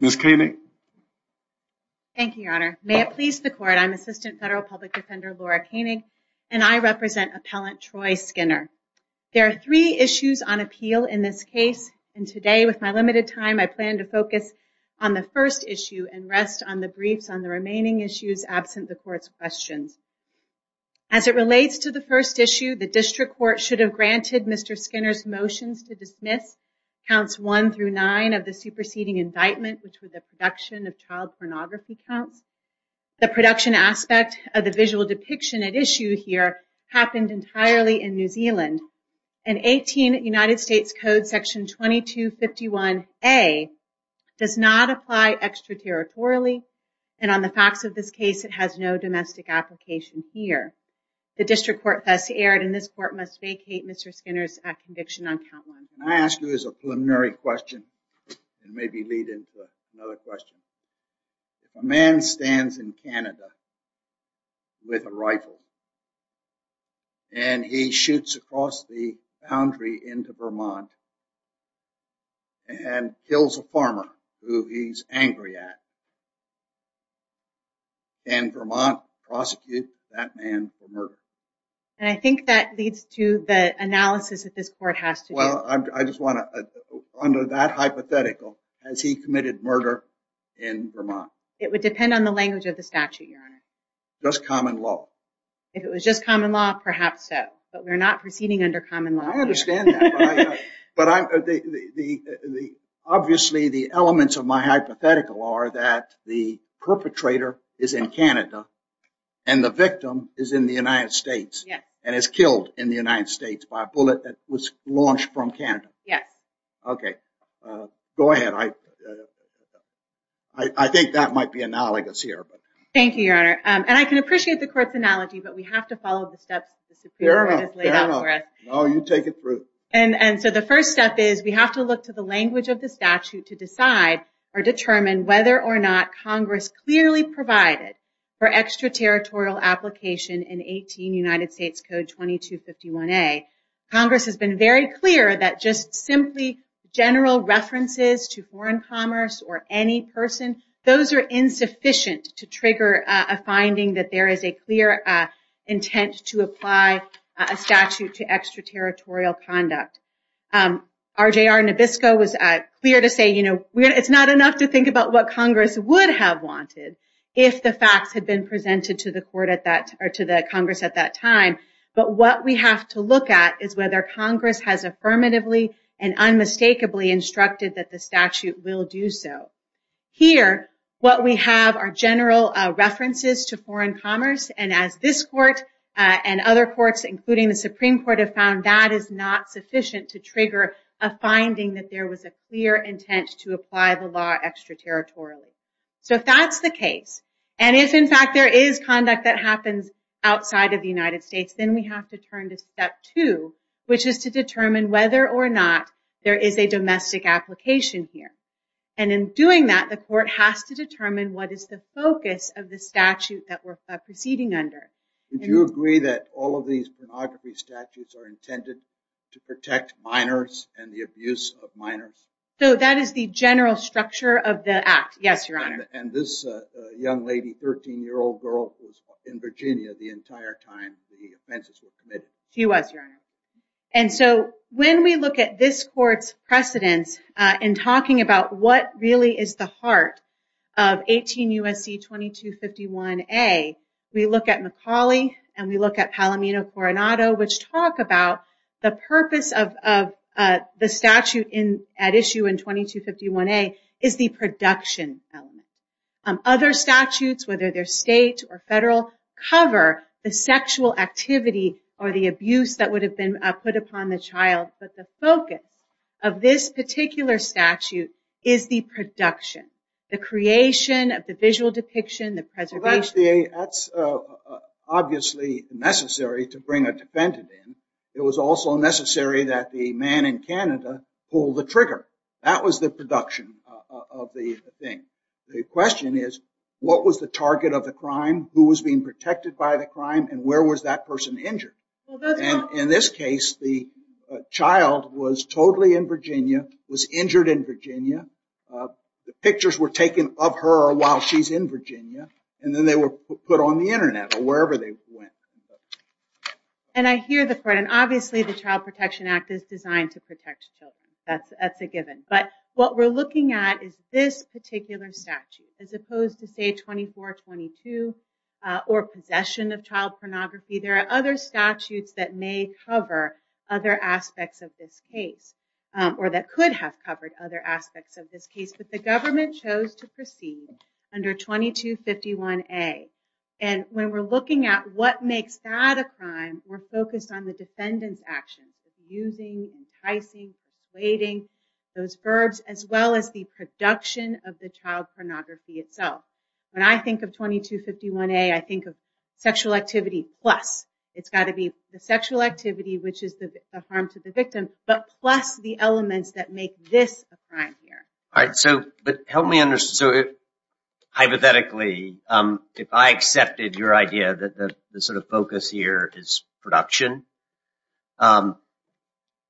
Ms. Koenig. Thank you, Your Honor. May it please the court, I'm Assistant Federal Public Defender Laura Koenig and I represent Appellant Troy Skinner. There are three issues on appeal in this case and today with my limited time I plan to focus on the first issue and rest on the briefs on the remaining issues absent the court's questions. As it relates to the first issue, the district court should have granted Mr. Skinner's motions to dismiss counts 1 through 9 of the superseding indictment which was a production of child pornography counts. The production aspect of the visual depiction at issue here happened entirely in New Zealand and 18 United States Code section 2251 a does not apply extraterritorially and on the facts of this case it has no domestic application here. The district court thus erred and this court must vacate Mr. Skinner's conviction on count 1. Can I ask you as a preliminary question and maybe lead into another question. A man stands in Canada with a rifle and he shoots across the boundary into Vermont and kills a farmer who he's angry at and Vermont prosecute that man for murder. And I think that leads to the analysis that this court has to do. Well I just want to under that hypothetical as he committed murder in Vermont. It would depend on the language of the statute your honor. Just common law. If it was just common law perhaps so but we're not proceeding under common law. I understand that but obviously the elements of my perpetrator is in Canada and the victim is in the United States and is killed in the United States by a bullet that was launched from Canada. Yes. Okay go ahead I I think that might be analogous here. Thank you your honor and I can appreciate the court's analogy but we have to follow the steps the Supreme Court has laid out for us. No you take it through. And so the first step is we have to look to the evidence that is clearly provided for extraterritorial application in 18 United States Code 2251A. Congress has been very clear that just simply general references to foreign commerce or any person those are insufficient to trigger a finding that there is a clear intent to apply a statute to extraterritorial conduct. R.J.R. Nabisco was clear to say you know it's not enough to think about what Congress would have wanted if the facts had been presented to the court at that or to the Congress at that time but what we have to look at is whether Congress has affirmatively and unmistakably instructed that the statute will do so. Here what we have are general references to foreign commerce and as this court and other courts including the Supreme Court have found that is not sufficient to trigger a finding that there was a clear intent to apply the law extraterritorially. So if that's the case and if in fact there is conduct that happens outside of the United States then we have to turn to step two which is to determine whether or not there is a domestic application here. And in doing that the court has to determine what is the focus of the statute that we're proceeding under. Do you agree that all of these pornography statutes are intended to protect minors and the abuse of minors? So that is the general structure of the act. Yes your honor. And this young lady 13 year old girl in Virginia the entire time the offenses were committed. She was your honor. And so when we look at this court's precedents in talking about what really is the heart of 18 USC 2251a we look at Macaulay and we look at Palomino Coronado which talk about the purpose of the statute at issue in 2251a is the production element. Other statutes whether they're state or federal cover the sexual activity or the abuse that would have been put upon the child but the focus of this particular statute is the production, the creation of the visual depiction, the preservation. That's obviously necessary to bring a defendant in. It was also necessary that the man in Canada pull the trigger. That was the production of the thing. The question is what was the target of the crime? Who was being protected by the crime? And where was that person injured? In this case the child was totally in Virginia, was injured in Virginia. The pictures were taken of her while she's in Virginia and then they were put on the internet or wherever they went. And I hear the point and obviously the Child Protection Act is designed to protect children. That's a given. But what we're looking at is this particular statute as opposed to say 2422 or possession of child pornography. There are other statutes that may cover other aspects of this case or that could have covered other aspects of this case but the government chose to proceed under 2251A. And when we're looking at what makes that a crime, we're focused on the defendant's actions. Using, enticing, persuading those verbs as well as the production of the child pornography itself. When I think of 2251A, I think of sexual activity plus. It's got to be the sexual activity which is the harm to the crime here. All right, so help me understand. So hypothetically, if I accepted your idea that the sort of focus here is production,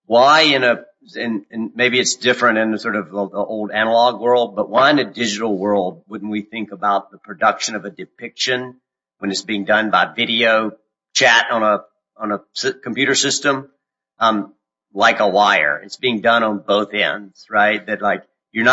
why in a, and maybe it's different in a sort of old analog world, but why in a digital world wouldn't we think about the production of a depiction when it's being done by video chat on a computer system like a wire? It's being done on both ends, right? That like, you're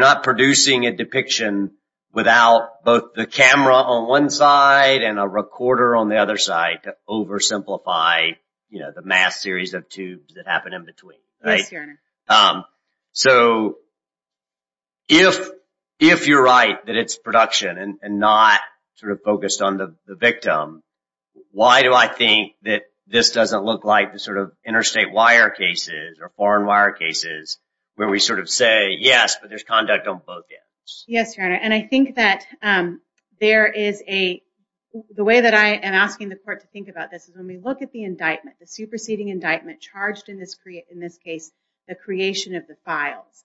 not producing a depiction without both the camera on one side and a recorder on the other side to oversimplify, you know, the mass series of tubes that happen in between, right? So if you're right that it's production and not sort of focused on the victim, why do I think that this doesn't look like the sort of interstate wire cases or foreign wire cases where we sort of say, yes, but there's conduct on both ends? Yes, Your Honor, and I think that there is a, the way that I am asking the court to think about this is when we look at the indictment, the superseding indictment charged in this case, the creation of the files,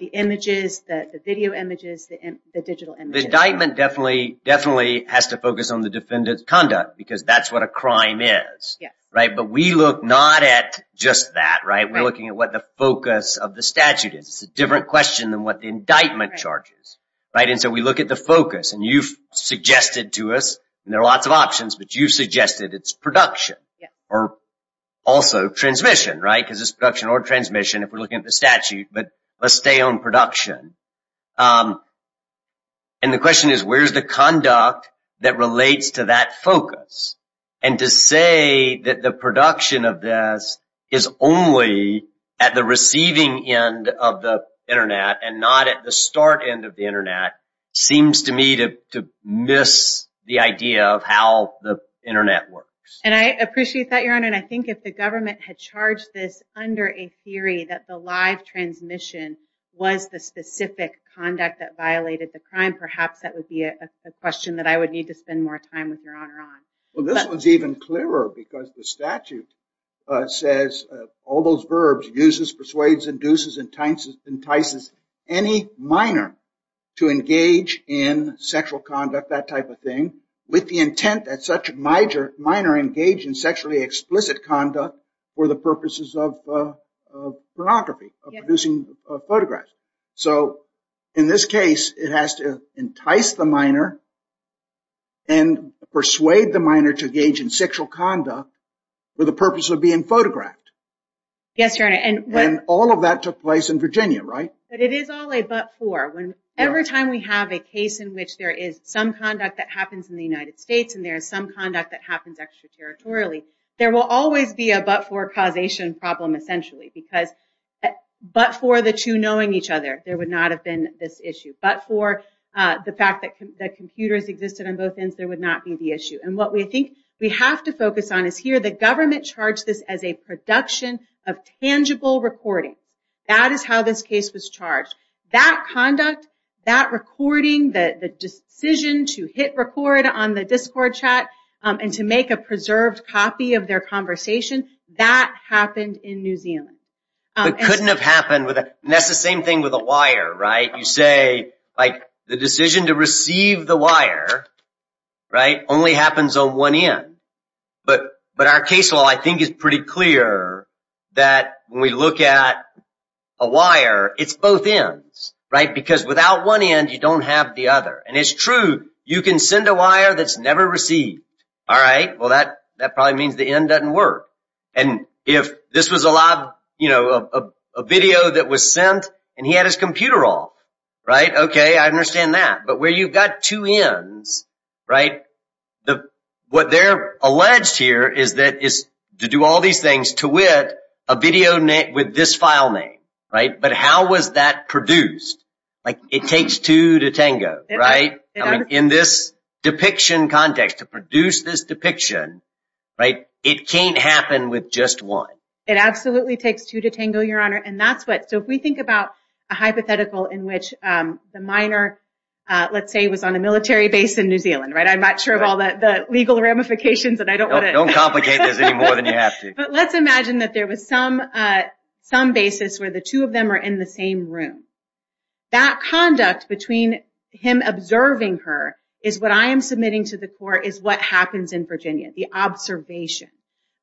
the images, the video images, the digital images. The indictment definitely has to focus on the defendant's conduct because that's what a crime is, right? But we look not at just that, right? We're looking at what the focus of the statute is. It's a different question than what the indictment charges, right? And so we look at the focus and you've suggested to us, and there are lots of options, but you suggested it's production or also transmission, right? Because it's production or transmission if we're looking at the statute, but let's stay on production. And the question is where's the conduct that relates to that focus? And to say that the production of this is only at the receiving end of the Internet and not at the start end of the Internet seems to me to miss the idea of how the Internet works. And I appreciate that, Your Honor, and I think if the government had charged this under a theory that the live transmission was the specific conduct that violated the crime, perhaps that would be a question that I would need to spend more time with Your Honor on. Well, this one's even clearer because the statute says all those verbs, uses, persuades, induces, entices any minor to engage in sexual conduct, that type of thing, with the intent that such a minor engage in sexually explicit conduct for the purposes of pornography, of producing persuade the minor to engage in sexual conduct for the purpose of being photographed. Yes, Your Honor. And all of that took place in Virginia, right? But it is all a but-for. Every time we have a case in which there is some conduct that happens in the United States and there's some conduct that happens extraterritorially, there will always be a but-for causation problem, essentially, because but-for the two knowing each other, there would not have been this issue. But-for the fact that computers existed on both ends, there would not be the issue. And what we think we have to focus on is here the government charged this as a production of tangible recordings. That is how this case was charged. That conduct, that recording, the decision to hit record on the Discord chat and to make a preserved copy of their conversation, that happened in New Zealand. It couldn't have happened with a-and that's the same thing with a wire, right? You say, like, the decision to receive the wire, right, only happens on one end. But-but our case law, I think, is pretty clear that when we look at a wire, it's both ends, right? Because without one end, you don't have the other. And it's true, you can send a wire that's never received, all right? Well, that-that probably means the end doesn't work. And if this was allowed, you know, a video that was sent and he had his computer off, right? Okay, I understand that. But where you've got two ends, right, the-what they're alleged here is that-is to do all these things to wit, a video named-with this file name, right? But how was that produced? Like, it takes two to tango, right? I mean, in this depiction context, to produce this depiction, right, it can't happen with just one. It absolutely takes two to tango, Your hypothetical in which the minor, let's say, was on a military base in New Zealand, right? I'm not sure of all that-the legal ramifications, and I don't want to... Don't complicate this any more than you have to. But let's imagine that there was some-some basis where the two of them are in the same room. That conduct between him observing her is what I am submitting to the court is what happens in Virginia, the observation.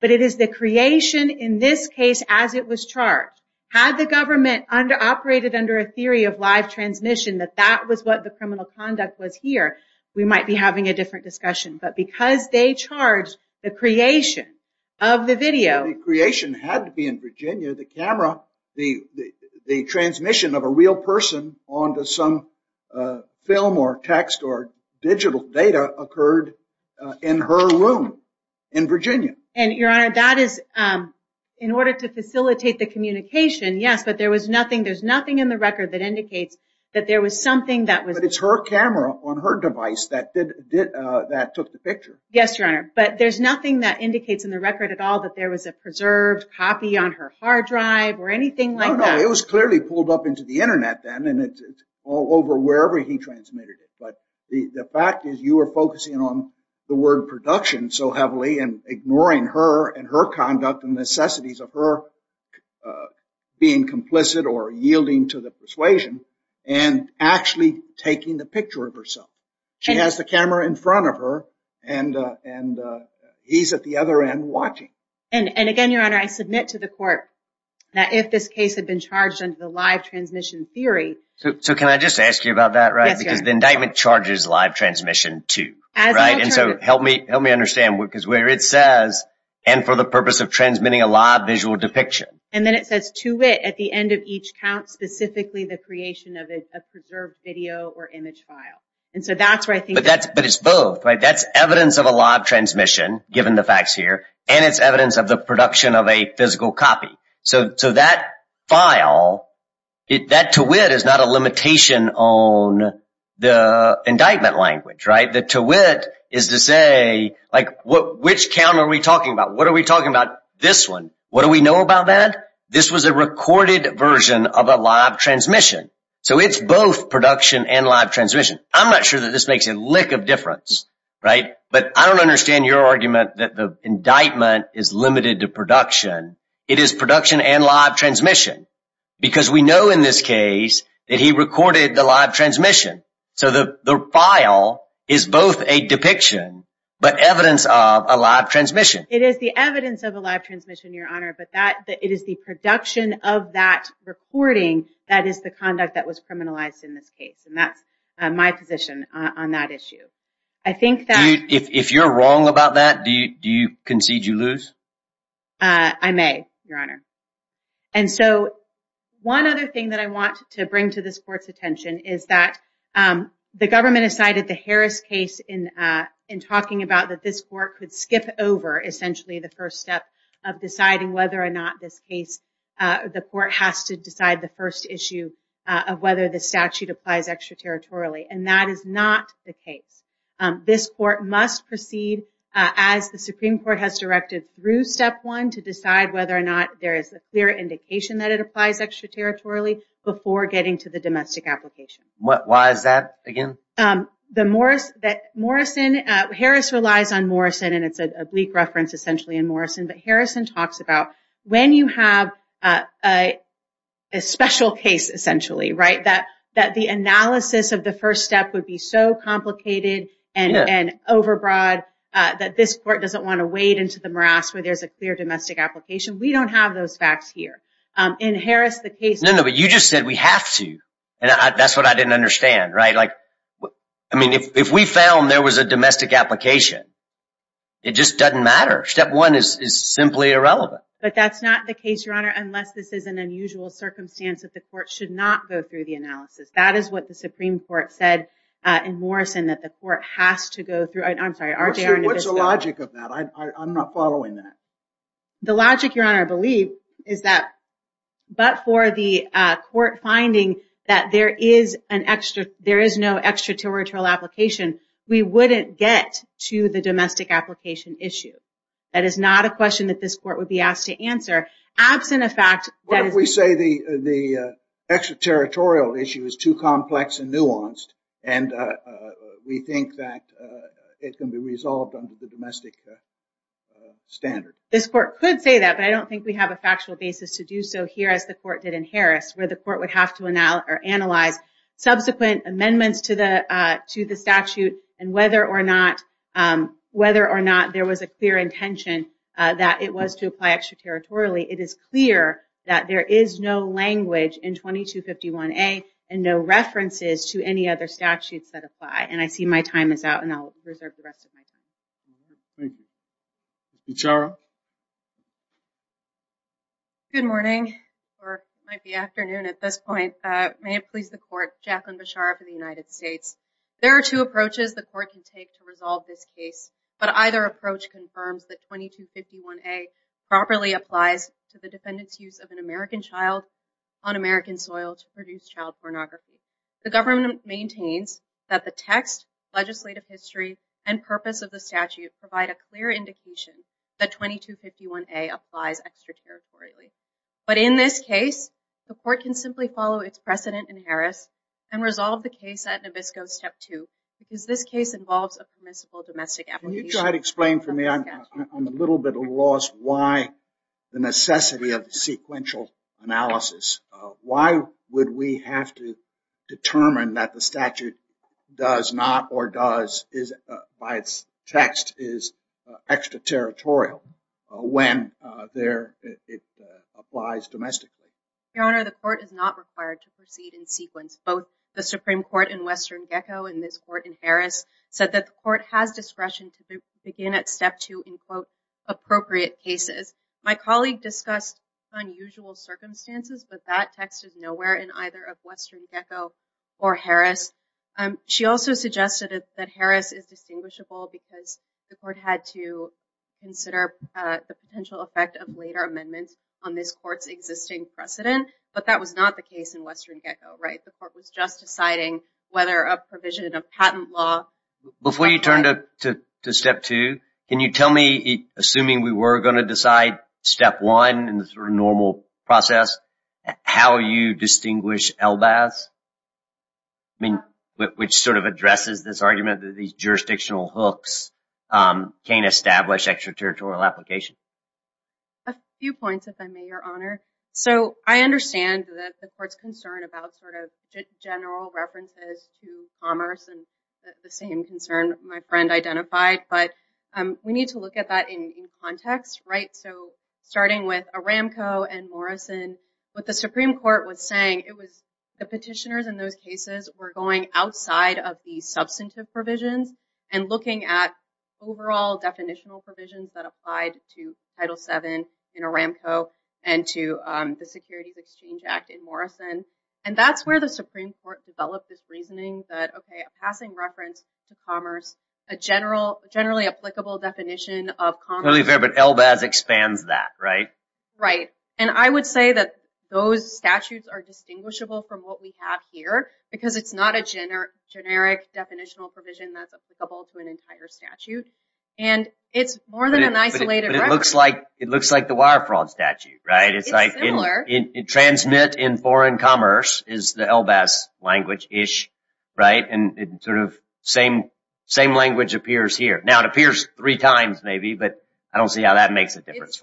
But it is the creation in this case as it was charged. Had the government under-operated under a theory of live transmission that that was what the criminal conduct was here, we might be having a different discussion. But because they charged the creation of the video... The creation had to be in Virginia. The camera, the-the transmission of a real person onto some film or text or digital data occurred in her room in order to facilitate the communication, yes, but there was nothing-there's nothing in the record that indicates that there was something that was... But it's her camera on her device that did-that took the picture. Yes, Your Honor, but there's nothing that indicates in the record at all that there was a preserved copy on her hard drive or anything like that. No, no, it was clearly pulled up into the internet then and it's all over wherever he transmitted it. But the fact is you were focusing on the word production so heavily and ignoring her and her conduct and necessities of her being complicit or yielding to the persuasion and actually taking the picture of herself. She has the camera in front of her and- and he's at the other end watching. And-and again, Your Honor, I submit to the court that if this case had been charged under the live transmission theory... So can I just ask you about that, right? Because the indictment charges live transmission too, right? And so help me-help me understand because where it says, and for the purpose of transmitting a live visual depiction. And then it says to wit at the end of each count, specifically the creation of a preserved video or image file. And so that's where I think... But that's-but it's both, right? That's evidence of a live transmission, given the facts here, and it's evidence of the production of a physical copy. So-so that file, that to wit is not a language, right? The to wit is to say, like, what-which count are we talking about? What are we talking about this one? What do we know about that? This was a recorded version of a live transmission. So it's both production and live transmission. I'm not sure that this makes a lick of difference, right? But I don't understand your argument that the indictment is limited to production. It is production and live transmission. Because we know in this case that he is both a depiction but evidence of a live transmission. It is the evidence of a live transmission, Your Honor, but that-it is the production of that recording that is the conduct that was criminalized in this case. And that's my position on that issue. I think that... If you're wrong about that, do you-do you concede you lose? I may, Your Honor. And so one other thing that I want to bring to this court's attention is that the government has cited the Harris case in in talking about that this court could skip over essentially the first step of deciding whether or not this case-the court has to decide the first issue of whether the statute applies extraterritorially. And that is not the case. This court must proceed as the Supreme Court has directed through step one to decide whether or not there is a clear indication that it applies extraterritorially before getting to the domestic application. What-why is that again? The Morris-that Morrison-Harris relies on Morrison and it's a bleak reference essentially in Morrison. But Harrison talks about when you have a special case essentially, right, that-that the analysis of the first step would be so complicated and-and overbroad that this court doesn't want to wade into the morass where there's a clear domestic application. We don't have those facts here. In Harris, the case- No, no, but you just said we have to and that's what I didn't understand, right? Like I mean if we found there was a domestic application, it just doesn't matter. Step one is simply irrelevant. But that's not the case, Your Honor, unless this is an unusual circumstance that the court should not go through the analysis. That is what the Supreme Court said in Morrison that the court has to go through-I'm sorry, are there-What's the logic, Your Honor, I believe is that but for the court finding that there is an extra-there is no extraterritorial application, we wouldn't get to the domestic application issue. That is not a question that this court would be asked to answer absent a fact-What if we say the-the extraterritorial issue is too complex and nuanced and we think that it can be resolved under the domestic standard? This court could say that but I don't think we have a factual basis to do so here as the court did in Harris where the court would have to analyze subsequent amendments to the to the statute and whether or not whether or not there was a clear intention that it was to apply extraterritorially. It is clear that there is no language in 2251a and no references to any other statutes that apply and I see my time is out and I'll reserve the rest of my time. Thank you. Bichara? Good morning or it might be afternoon at this point. May it please the court, Jacqueline Bichara for the United States. There are two approaches the court can take to resolve this case but either approach confirms that 2251a properly applies to the defendant's use of an American child on American soil to the text legislative history and purpose of the statute provide a clear indication that 2251a applies extraterritorially but in this case the court can simply follow its precedent in Harris and resolve the case at Nabisco step two because this case involves a permissible domestic application. Can you try to explain for me? I'm a little bit lost why the necessity of the sequential analysis. Why would we have to determine that the does not or does is by its text is extraterritorial when there it applies domestically? Your Honor, the court is not required to proceed in sequence. Both the Supreme Court in Western Geco and this court in Harris said that the court has discretion to begin at step two in quote appropriate cases. My colleague discussed unusual circumstances but that text is nowhere in either of Western Geco or Harris. She also suggested that Harris is distinguishable because the court had to consider the potential effect of later amendments on this court's existing precedent but that was not the case in Western Geco, right? The court was just deciding whether a provision of patent law... Before you turn to step two, can you tell me, assuming we were going to decide step one in the sort of normal process, how you distinguish LBAS? I mean which sort of addresses this argument that these jurisdictional hooks can't establish extraterritorial application. A few points if I may, Your Honor. So I understand that the court's concern about sort of general references to commerce and the same concern my friend identified but we need to look at that in context, right? So starting with Aramco and Morrison, what the Supreme Court was saying it was the petitioners in those cases were going outside of the substantive provisions and looking at overall definitional provisions that applied to Title VII in Aramco and to the Securities Exchange Act in Morrison and that's where the Supreme Court developed this reasoning that okay a passing reference to commerce, a generally applicable definition of commerce... But LBAS expands that, right? Right. And I would say that those statutes are distinguishable from what we have here because it's not a generic definitional provision that's applicable to an entire statute and it's more than an isolated reference. It looks like it looks like the wire fraud statute, right? It's like in transmit in foreign commerce is the LBAS language-ish, right? And it sort of same language appears here. Now it appears three times maybe but I don't see how that makes a difference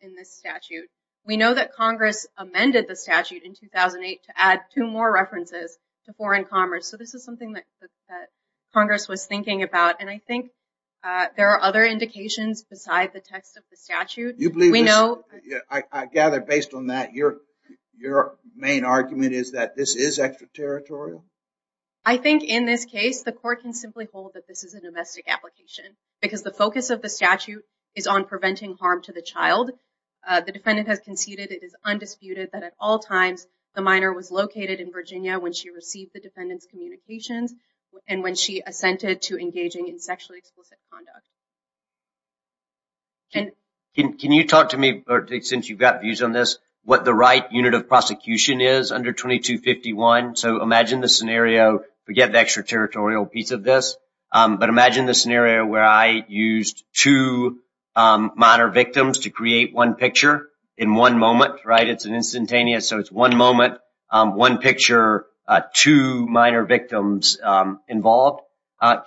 in this statute. We know that Congress amended the statute in 2008 to add two more references to foreign commerce so this is something that Congress was thinking about and I think there are other indications beside the text of the statute. You believe we know... I gather based on that your main argument is that this is extraterritorial? I think in this case the court can simply hold that this is a domestic application because the focus of the statute is on preventing harm to the child. The defendant has conceded it is undisputed that at all times the minor was located in Virginia when she received the defendant's communications and when she assented to engaging in sexually explicit conduct. Can you talk to me, since you've got views on this, what the right unit of prosecution is under 2251? So imagine the scenario, forget the extraterritorial piece of this, but imagine the scenario where I used two minor victims to create one picture in one moment, right? It's an instantaneous, so it's one moment, one picture, two minor victims involved.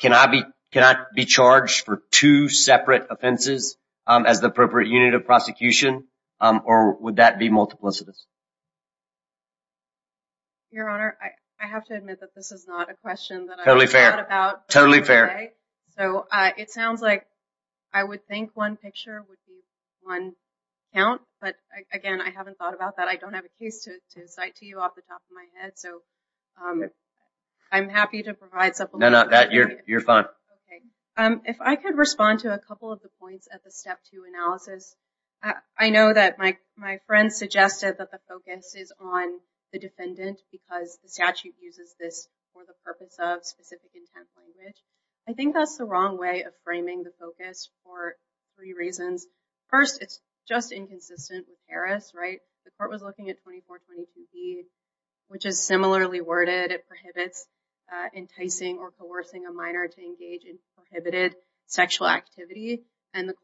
Can I be charged for two separate offenses as the appropriate unit of prosecution or would that be multiplicitous? Your Honor, I have to admit that this is not a question that I've thought about. Totally fair. So it sounds like I would think one picture would be one count, but again I haven't thought about that. I don't have a case to cite to you off the top of my head, so I'm happy to provide supplementary... No, no, you're fine. If I could respond to a couple of the points at the step two analysis, I know that my friend suggested that the focus is on the defendant because the statute uses this for the purpose of specific intent language. I think that's the wrong way of framing the focus for three reasons. First, it's just inconsistent with Paris, right? The court was looking at 2420 PE, which is similarly worded. It prohibits enticing or coercing a minor to engage in prohibited sexual activity, and the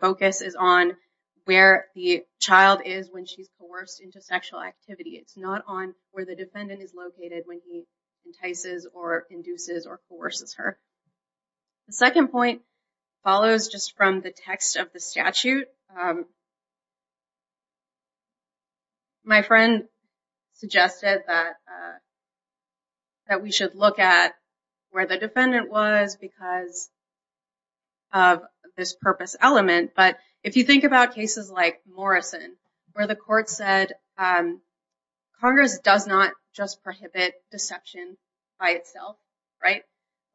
focus is on where the child is when she's coerced into sexual activity. It's not on where the defendant is located when he entices or induces or coerces her. The second point follows just from the text of the statute. My friend suggested that that we should look at where the defendant was because of this purpose element, but if you think about cases like Morrison, where the court said Congress does not just prohibit deception by itself, right?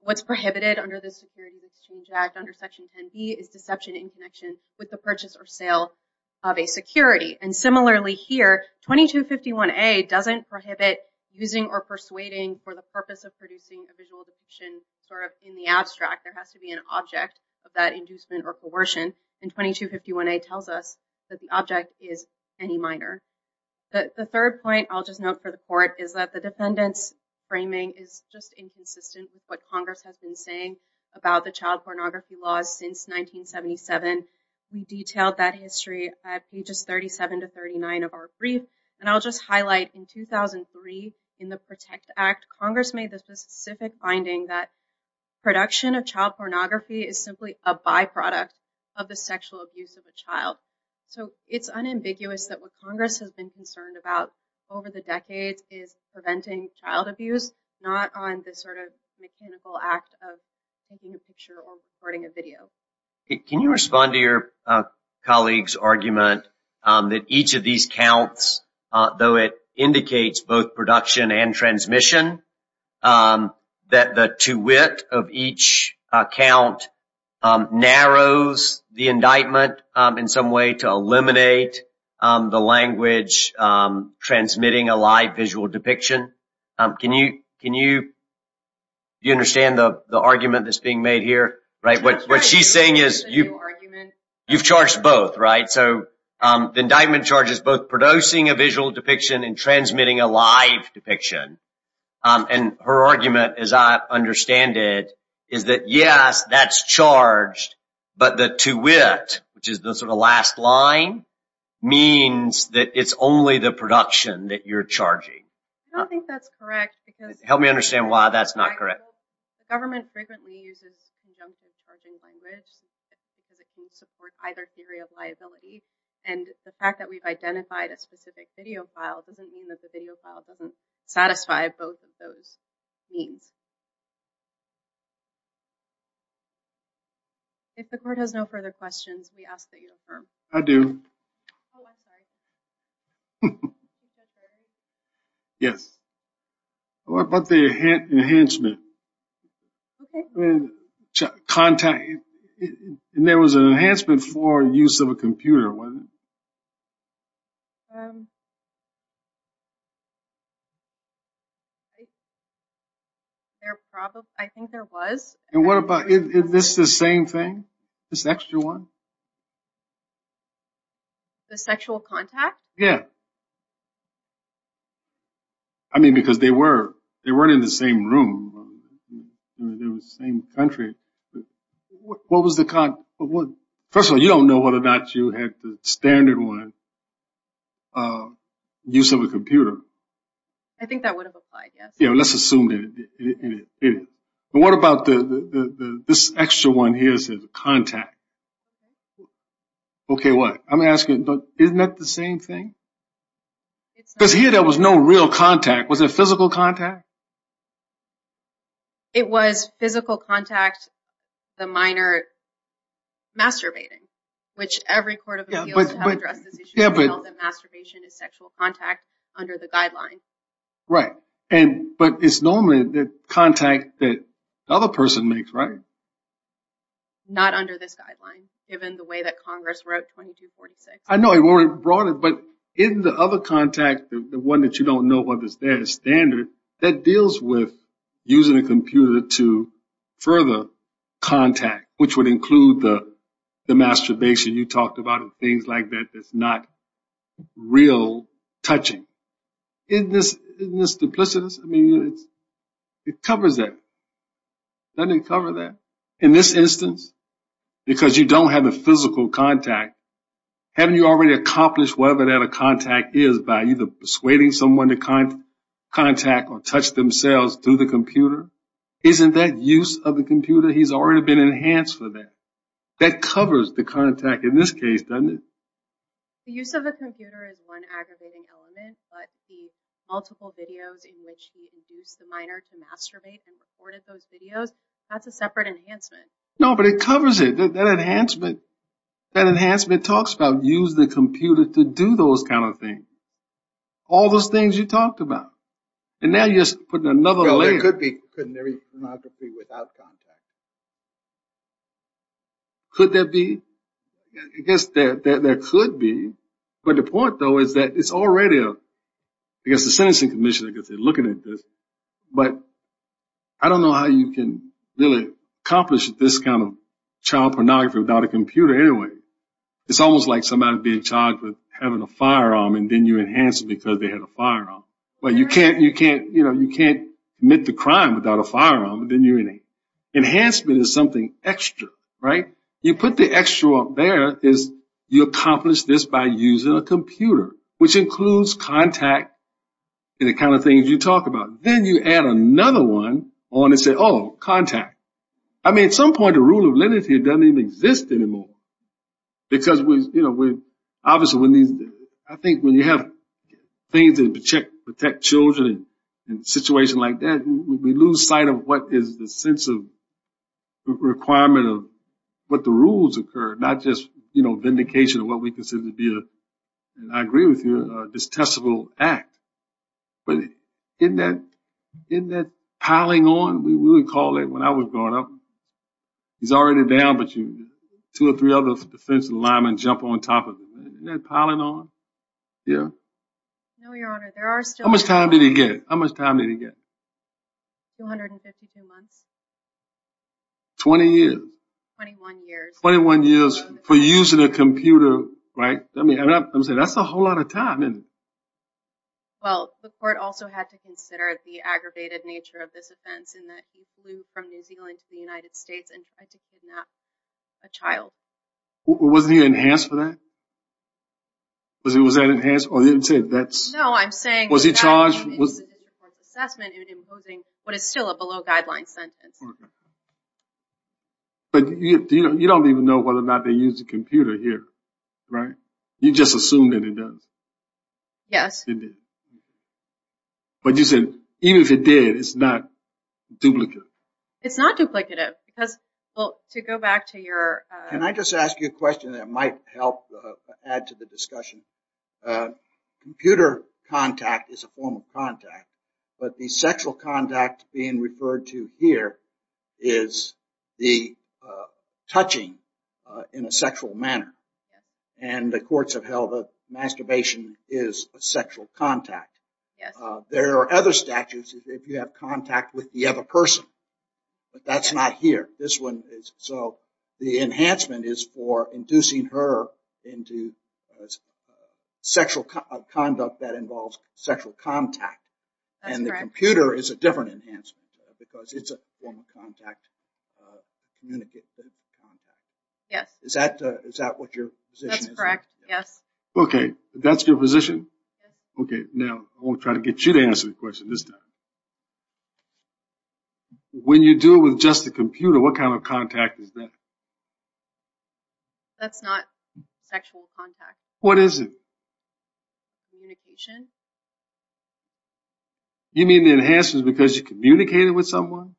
What's prohibited under the Security Exchange Act under Section 10B is deception in connection with the purchase or sale of a security, and similarly here, 2251A doesn't prohibit using or persuading for the purpose of producing a visual or coercion, and 2251A tells us that the object is any minor. The third point I'll just note for the court is that the defendant's framing is just inconsistent with what Congress has been saying about the child pornography laws since 1977. We detailed that history at pages 37 to 39 of our brief, and I'll just highlight in 2003 in the PROTECT Act, Congress made the specific finding that production of the sexual abuse of a child. So it's unambiguous that what Congress has been concerned about over the decades is preventing child abuse, not on this sort of mechanical act of taking a picture or recording a video. Can you respond to your colleague's argument that each of these counts, though it indicates both borrows the indictment in some way to eliminate the language transmitting a live visual depiction? Can you understand the argument that's being made here? What she's saying is you've charged both, right? So the indictment charges both producing a visual depiction and transmitting a live depiction. And her argument, as I understand it, is that yes, that's charged, but the to wit, which is the sort of last line, means that it's only the production that you're charging. I don't think that's correct. Help me understand why that's not correct. The government frequently uses conjunction charging language because it can support either theory of liability. And the fact that we've identified a specific video file doesn't mean that the video file doesn't satisfy both of those means. If the court has no further questions, we ask that you affirm. I do. Yes. What about the enhancement? Contact? And there was an enhancement for use of a computer wasn't it? I think there was. And what about, is this the same thing? This extra one? The sexual contact? Yeah. I mean, because they were, they weren't in the same room. They were in the same country. What was the, first of all, you don't know whether or not you had the standard one, use of a computer. I think that would have applied. Yes. Yeah. Let's assume that. And what about the, the, the, the, this extra one here says contact. Okay. What I'm asking, isn't that the same thing? Because here there was no real contact. Was it physical contact? It was physical contact, the minor masturbating, which every court of appeals to have addressed this issue, that masturbation is sexual contact under the guideline. Right. And, but it's normally the contact that the other person makes, right? Not under this guideline, given the way that Congress wrote 2246. I know it weren't brought in, but in the other contact, the one that you don't know whether it's there, the standard, that deals with using a computer to further contact, which would include the, the masturbation you talked about and things like that, that's not real touching. Isn't this, isn't this duplicitous? I mean, it's, it covers that. Doesn't it cover that? In this instance, because you don't have a physical contact, haven't you already accomplished whatever that a contact is by either persuading someone to contact or touch themselves through the computer? Isn't that use of the computer? He's already been enhanced for that. That covers the contact in this case, doesn't it? The use of the computer is one aggravating element, but the multiple videos in which he induced the minor to masturbate and recorded those videos, that's a separate enhancement. No, but it covers it. That enhancement, that enhancement talks about use the computer to do those kind of things. All those things you talked about. And now you're putting another layer. There could be, couldn't there be pornography without contact? Could there be? I guess there could be. But the point though is that it's already a, I guess the sentencing commission, I guess they're looking at this, but I don't know how you can really accomplish this kind of child pornography without a computer anyway. It's almost like somebody being charged with having a firearm and then you enhance it because they had a firearm. Well, you can't, you can't, you know, you can't commit the crime without a firearm and then you're in a, enhancement is something extra, right? You put the extra up there is you accomplish this by using a computer, which includes contact and the kind of things you talk about. Then you add another one on and say, oh, contact. I mean, at some point, the rule of leniency doesn't even exist anymore because we, you know, obviously when these, I think when you have things that protect children in a situation like that, we lose sight of what is the sense of requirement of what the rules occur, not just, you know, vindication of what we consider to be a, and I agree with you, a distasteful act. But isn't that, isn't that piling on? We would call it when I was growing up, he's already down, but you two or three other defensive linemen jump on top of him. Isn't that piling on? Yeah. No, your honor, there are still... How much time did he get? How much time did he get? 252 months. 20 years. 21 years. 21 years for using a computer, right? I mean, I'm saying that's a whole lot of time, isn't it? Well, the court also had to consider the aggravated nature of this offense in that he flew from New Zealand to the United States and tried to kidnap a child. Wasn't he enhanced for that? Was that enhanced? Or you didn't say that's... No, I'm saying... Was he charged? ...assessment in imposing what is still a below-guidelines sentence. Okay. But you don't even know whether or not they used a computer here, right? You just assumed that it does. Yes. But you said even if it did, it's not duplicative. It's not duplicative because, well, to go back to your... Can I just ask you a question that might help add to the discussion? Computer contact is a form of contact, but the sexual contact being referred to here is the touching in a sexual manner. And the courts have held that masturbation is a sexual contact. There are other statutes if you have contact with the other person, but that's not here. This one is... So the enhancement is for inducing her into sexual conduct that involves sexual contact. That's correct. Computer is a different enhancement because it's a form of contact. Yes. Is that what your position is? That's correct. Yes. Okay. That's your position? Okay. Now, I want to try to get you to answer the question this time. When you do it with just a computer, what kind of contact is that? That's not sexual contact. What is it? Communication. Communication? You mean the enhancement is because you communicated with someone?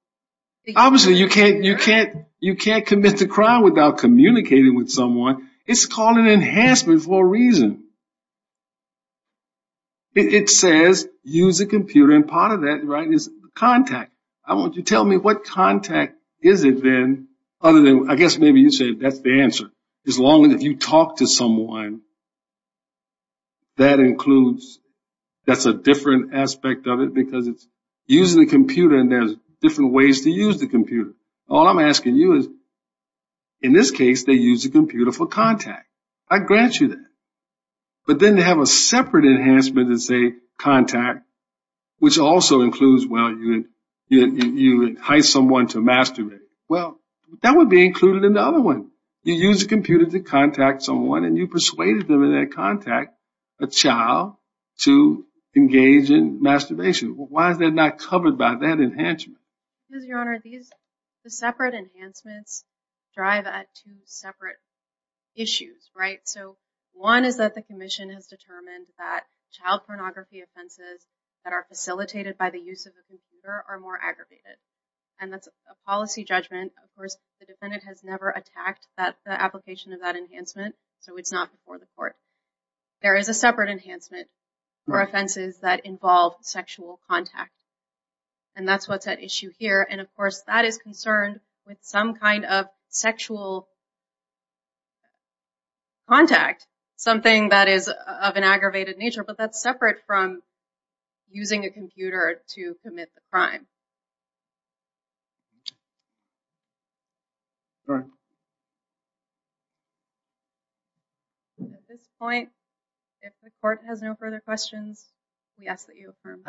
Obviously, you can't commit the crime without communicating with someone. It's called an enhancement for a reason. It says use a computer, and part of that is contact. I want you to tell me what contact is it then, other than... I guess maybe you say that's the answer. As long as you talk to someone, that includes... That's a different aspect of it because it's using a computer, and there's different ways to use the computer. All I'm asking you is, in this case, they use a computer for contact. I grant you that. But then they have a separate enhancement that say contact, which also includes, well, you entice someone to masturbate. Well, that would be included in the other one. You use a computer to contact someone, and you persuaded them in that contact, a child to engage in masturbation. Why is that not covered by that enhancement? Mr. Your Honor, the separate enhancements drive at two separate issues, right? So one is that the commission has determined that child pornography offenses that are facilitated by the use of a computer are more aggravated, and that's a policy judgment. Of course, the defendant has never attacked the application of that enhancement, so it's not before the court. There is a separate enhancement for offenses that involve sexual contact, and that's what's at issue here. And of course, that is concerned with some kind of sexual contact, something that is of an aggravated nature, but that's separate from using a computer to commit the crime. Go ahead. At this point, if the court has no further questions, we ask that you affirm.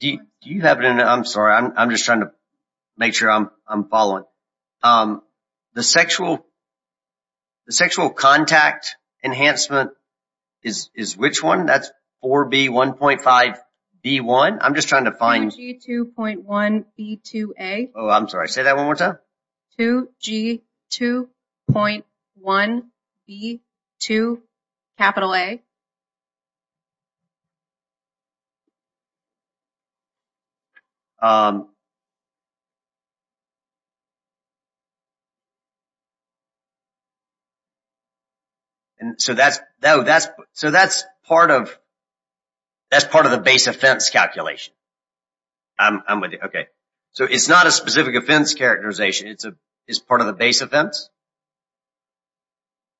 Do you have it? I'm sorry. I'm just trying to make sure I'm following. The sexual contact enhancement is which one? That's 4B1.5B1. I'm just trying to find... 4G2.1B2A. Oh, I'm sorry. Say that one more time. 2G2.1B2A. And so that's part of the base offense calculation. I'm with you. Okay. So it's not a specific offense characterization. It's part of the base offense.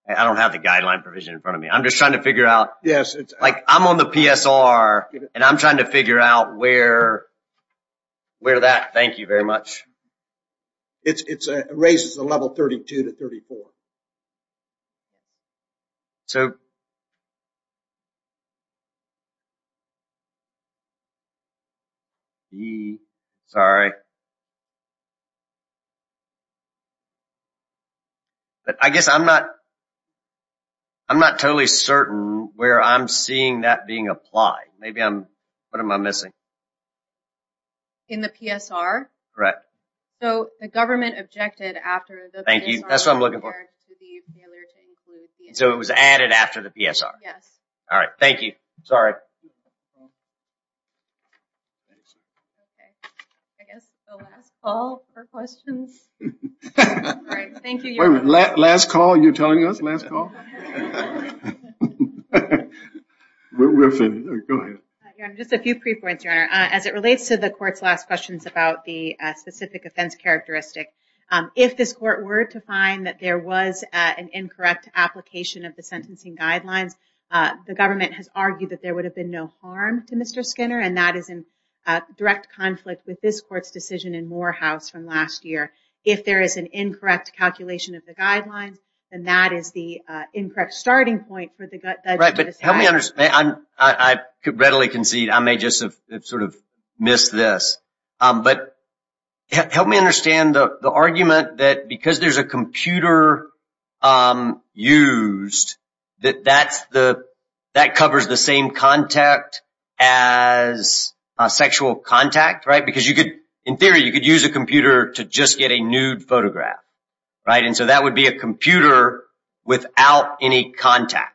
I don't have the guideline provision in front of me. I'm just trying to figure out... Yes. Like I'm on the PSR and I'm trying to figure out where that... Thank you very much. It raises the level 32 to 34. So... Sorry. But I guess I'm not... I'm not totally certain where I'm seeing that being applied. Maybe I'm... What am I missing? In the PSR? Correct. So the government objected after the... Thank you. That's what I'm looking for. So it was added after the PSR? Yes. All right. Thank you. Sorry. Okay. I guess the last call for questions. All right. Thank you, Your Honor. Last call? You're telling us last call? We're finished. Go ahead. Just a few pre-points, Your Honor. As it relates to the court's last questions about the specific offense characteristic, if this court were to find that there was an incorrect application of the sentencing guidelines, the government has argued that there would have been no harm to Mr. Skinner, and that is in direct conflict with this court's decision in Morehouse from last year. If there is an incorrect calculation of the guidelines, then that is the incorrect starting point for the... Right. But help me understand. I readily concede I may just have sort of missed this. But help me understand the argument that because there's a computer used, that that covers the same contact as sexual contact, right? In theory, you could use a computer to just get a nude photograph, right? And so that would be a computer without any contact.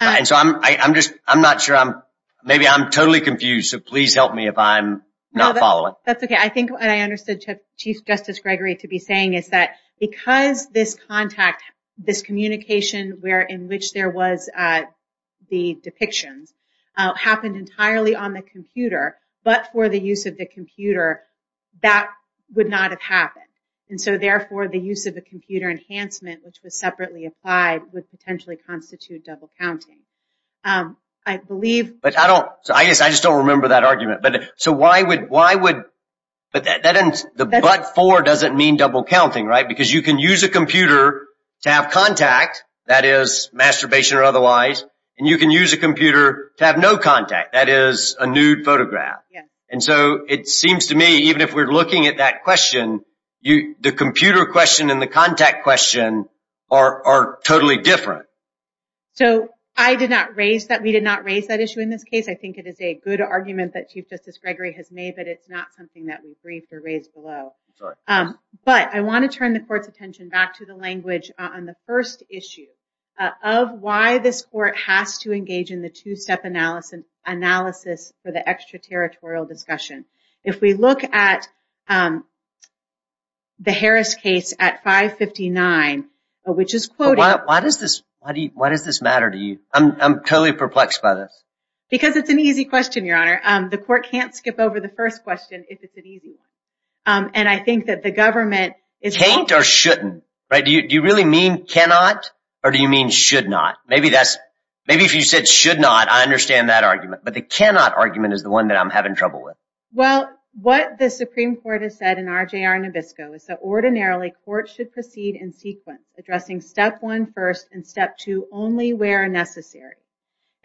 And so I'm not sure. Maybe I'm totally confused. So please help me if I'm not following. That's okay. I think what I understood Chief Justice Gregory to be saying is that because this contact, this communication in which there was the depictions happened entirely on the computer, but for the use of the computer, that would not have happened. And so therefore, the use of a computer enhancement, which was separately applied, would potentially constitute double counting. I believe... But I don't... I guess I just don't remember that argument. But so why would... But the but for doesn't mean double counting, right? Because you can use a computer to have contact, that is masturbation or otherwise, and you can use a computer to have no contact, that is a nude photograph. And so it seems to me, even if we're looking at that question, the computer question and the contact question are totally different. So I did not raise that. We did not raise that issue in this case. I think it is a good argument that Chief Justice Gregory has made, but it's not something that we briefed or raised below. But I want to turn the court's attention back to the language on the first issue of why this court has to engage in the two-step analysis for the extraterritorial discussion. If we look at the Harris case at 559, which is quoted... Why does this matter to you? I'm totally perplexed by this. Because it's an easy question, Your Honor. The court can't skip over the first question if it's an easy one. And I think that the government is... Can't or shouldn't, right? Do you really mean cannot? Or do you mean should not? Maybe that's... Maybe if you said should not, I understand that argument. But the cannot argument is the one that I'm having trouble with. Well, what the Supreme Court has said in RJR Nabisco is that ordinarily, courts should proceed in sequence, addressing step one first and step two only where necessary.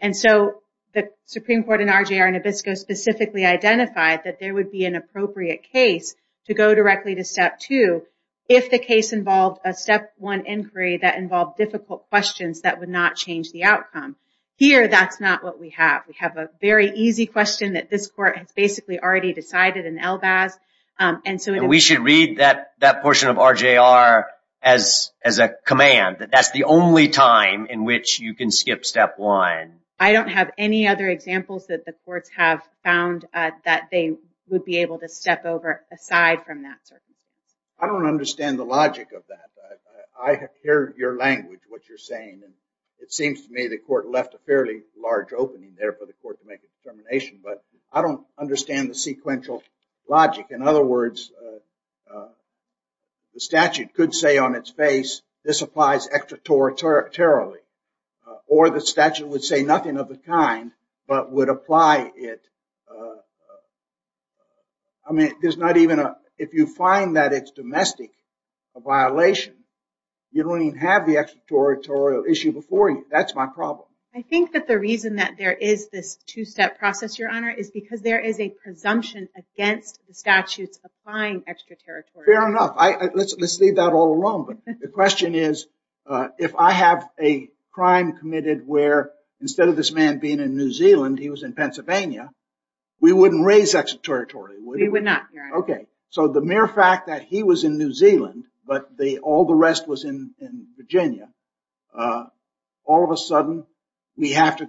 And so the Supreme Court in RJR Nabisco specifically identified that there would be an appropriate case to go directly to step two if the case involved a step one inquiry that involved difficult questions that would not change the outcome. Here, that's not what we have. We have a very easy question that this court has basically already decided in Elbaz. And so... We should read that portion of RJR as a command, that that's the only time in which you can skip step one. I don't have any other examples that the courts have found that they would be able to step over aside from that circumstance. I don't understand the logic of that. I hear your language, what you're saying. And it seems to me the court left a fairly large opening there for the court to make a determination. But I don't understand the sequential logic. In other words, the statute could say on its face, this applies extraterritorially. Or the statute would say nothing of the kind, but would apply it. I mean, there's not even a... If you find that it's domestic, a violation, you don't even have the extraterritorial issue before you. That's my problem. I think that the reason that there is this two-step process, Your Honor, is because there is a presumption against the statutes applying extraterritorially. Fair enough. Let's leave that all alone. But the question is, if I have a crime committed where, instead of this man being in New Zealand, he was in Pennsylvania, we wouldn't raise extraterritorially, would we? We would not, Your Honor. So the mere fact that he was in New Zealand, but all the rest was in Virginia, all of a sudden, we have to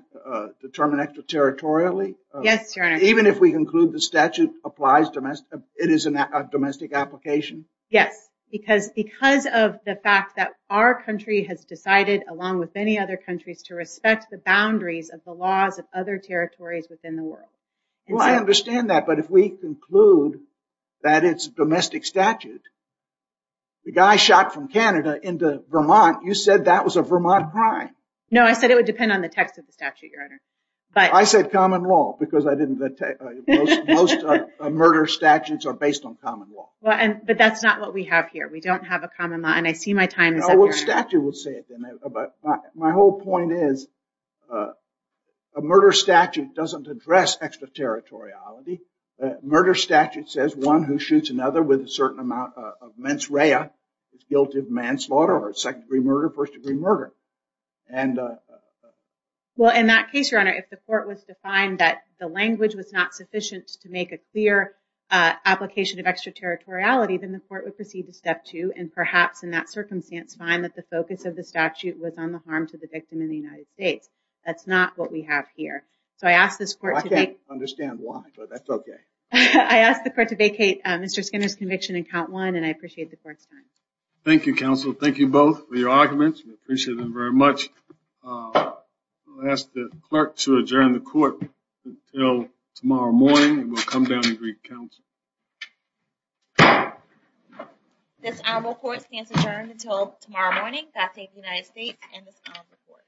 determine extraterritorially? Yes, Your Honor. Even if we conclude the statute applies, it is a domestic application? Yes, because of the fact that our country has decided, along with many other countries, to respect the boundaries of the laws of other territories within the world. Well, I understand that. But if we conclude that it's a domestic statute, the guy shot from Canada into Vermont, you said that was a Vermont crime? No, I said it would depend on the text of the statute, Your Honor. I said common law because most murder statutes are based on common law. But that's not what we have here. We don't have a common law. And I see my time is up, Your Honor. Well, statute will say it then. My whole point is a murder statute doesn't address extraterritoriality. Murder statute says one who shoots another with a certain amount of mens rea is guilty of manslaughter or second-degree murder, first-degree murder. Well, in that case, Your Honor, if the court was defined that the language was not sufficient to make a clear application of extraterritoriality, then the court would proceed to step two and perhaps, in that circumstance, find that the focus of the statute was on the harm to the victim in the United States. That's not what we have here. So I asked this court to make— understand why, but that's OK. I asked the court to vacate Mr. Skinner's conviction in count one, and I appreciate the court's time. Thank you, counsel. Thank you both for your arguments. We appreciate them very much. I'll ask the clerk to adjourn the court until tomorrow morning, and we'll come down and greet counsel. This honorable court stands adjourned until tomorrow morning. God save the United States and this honorable court.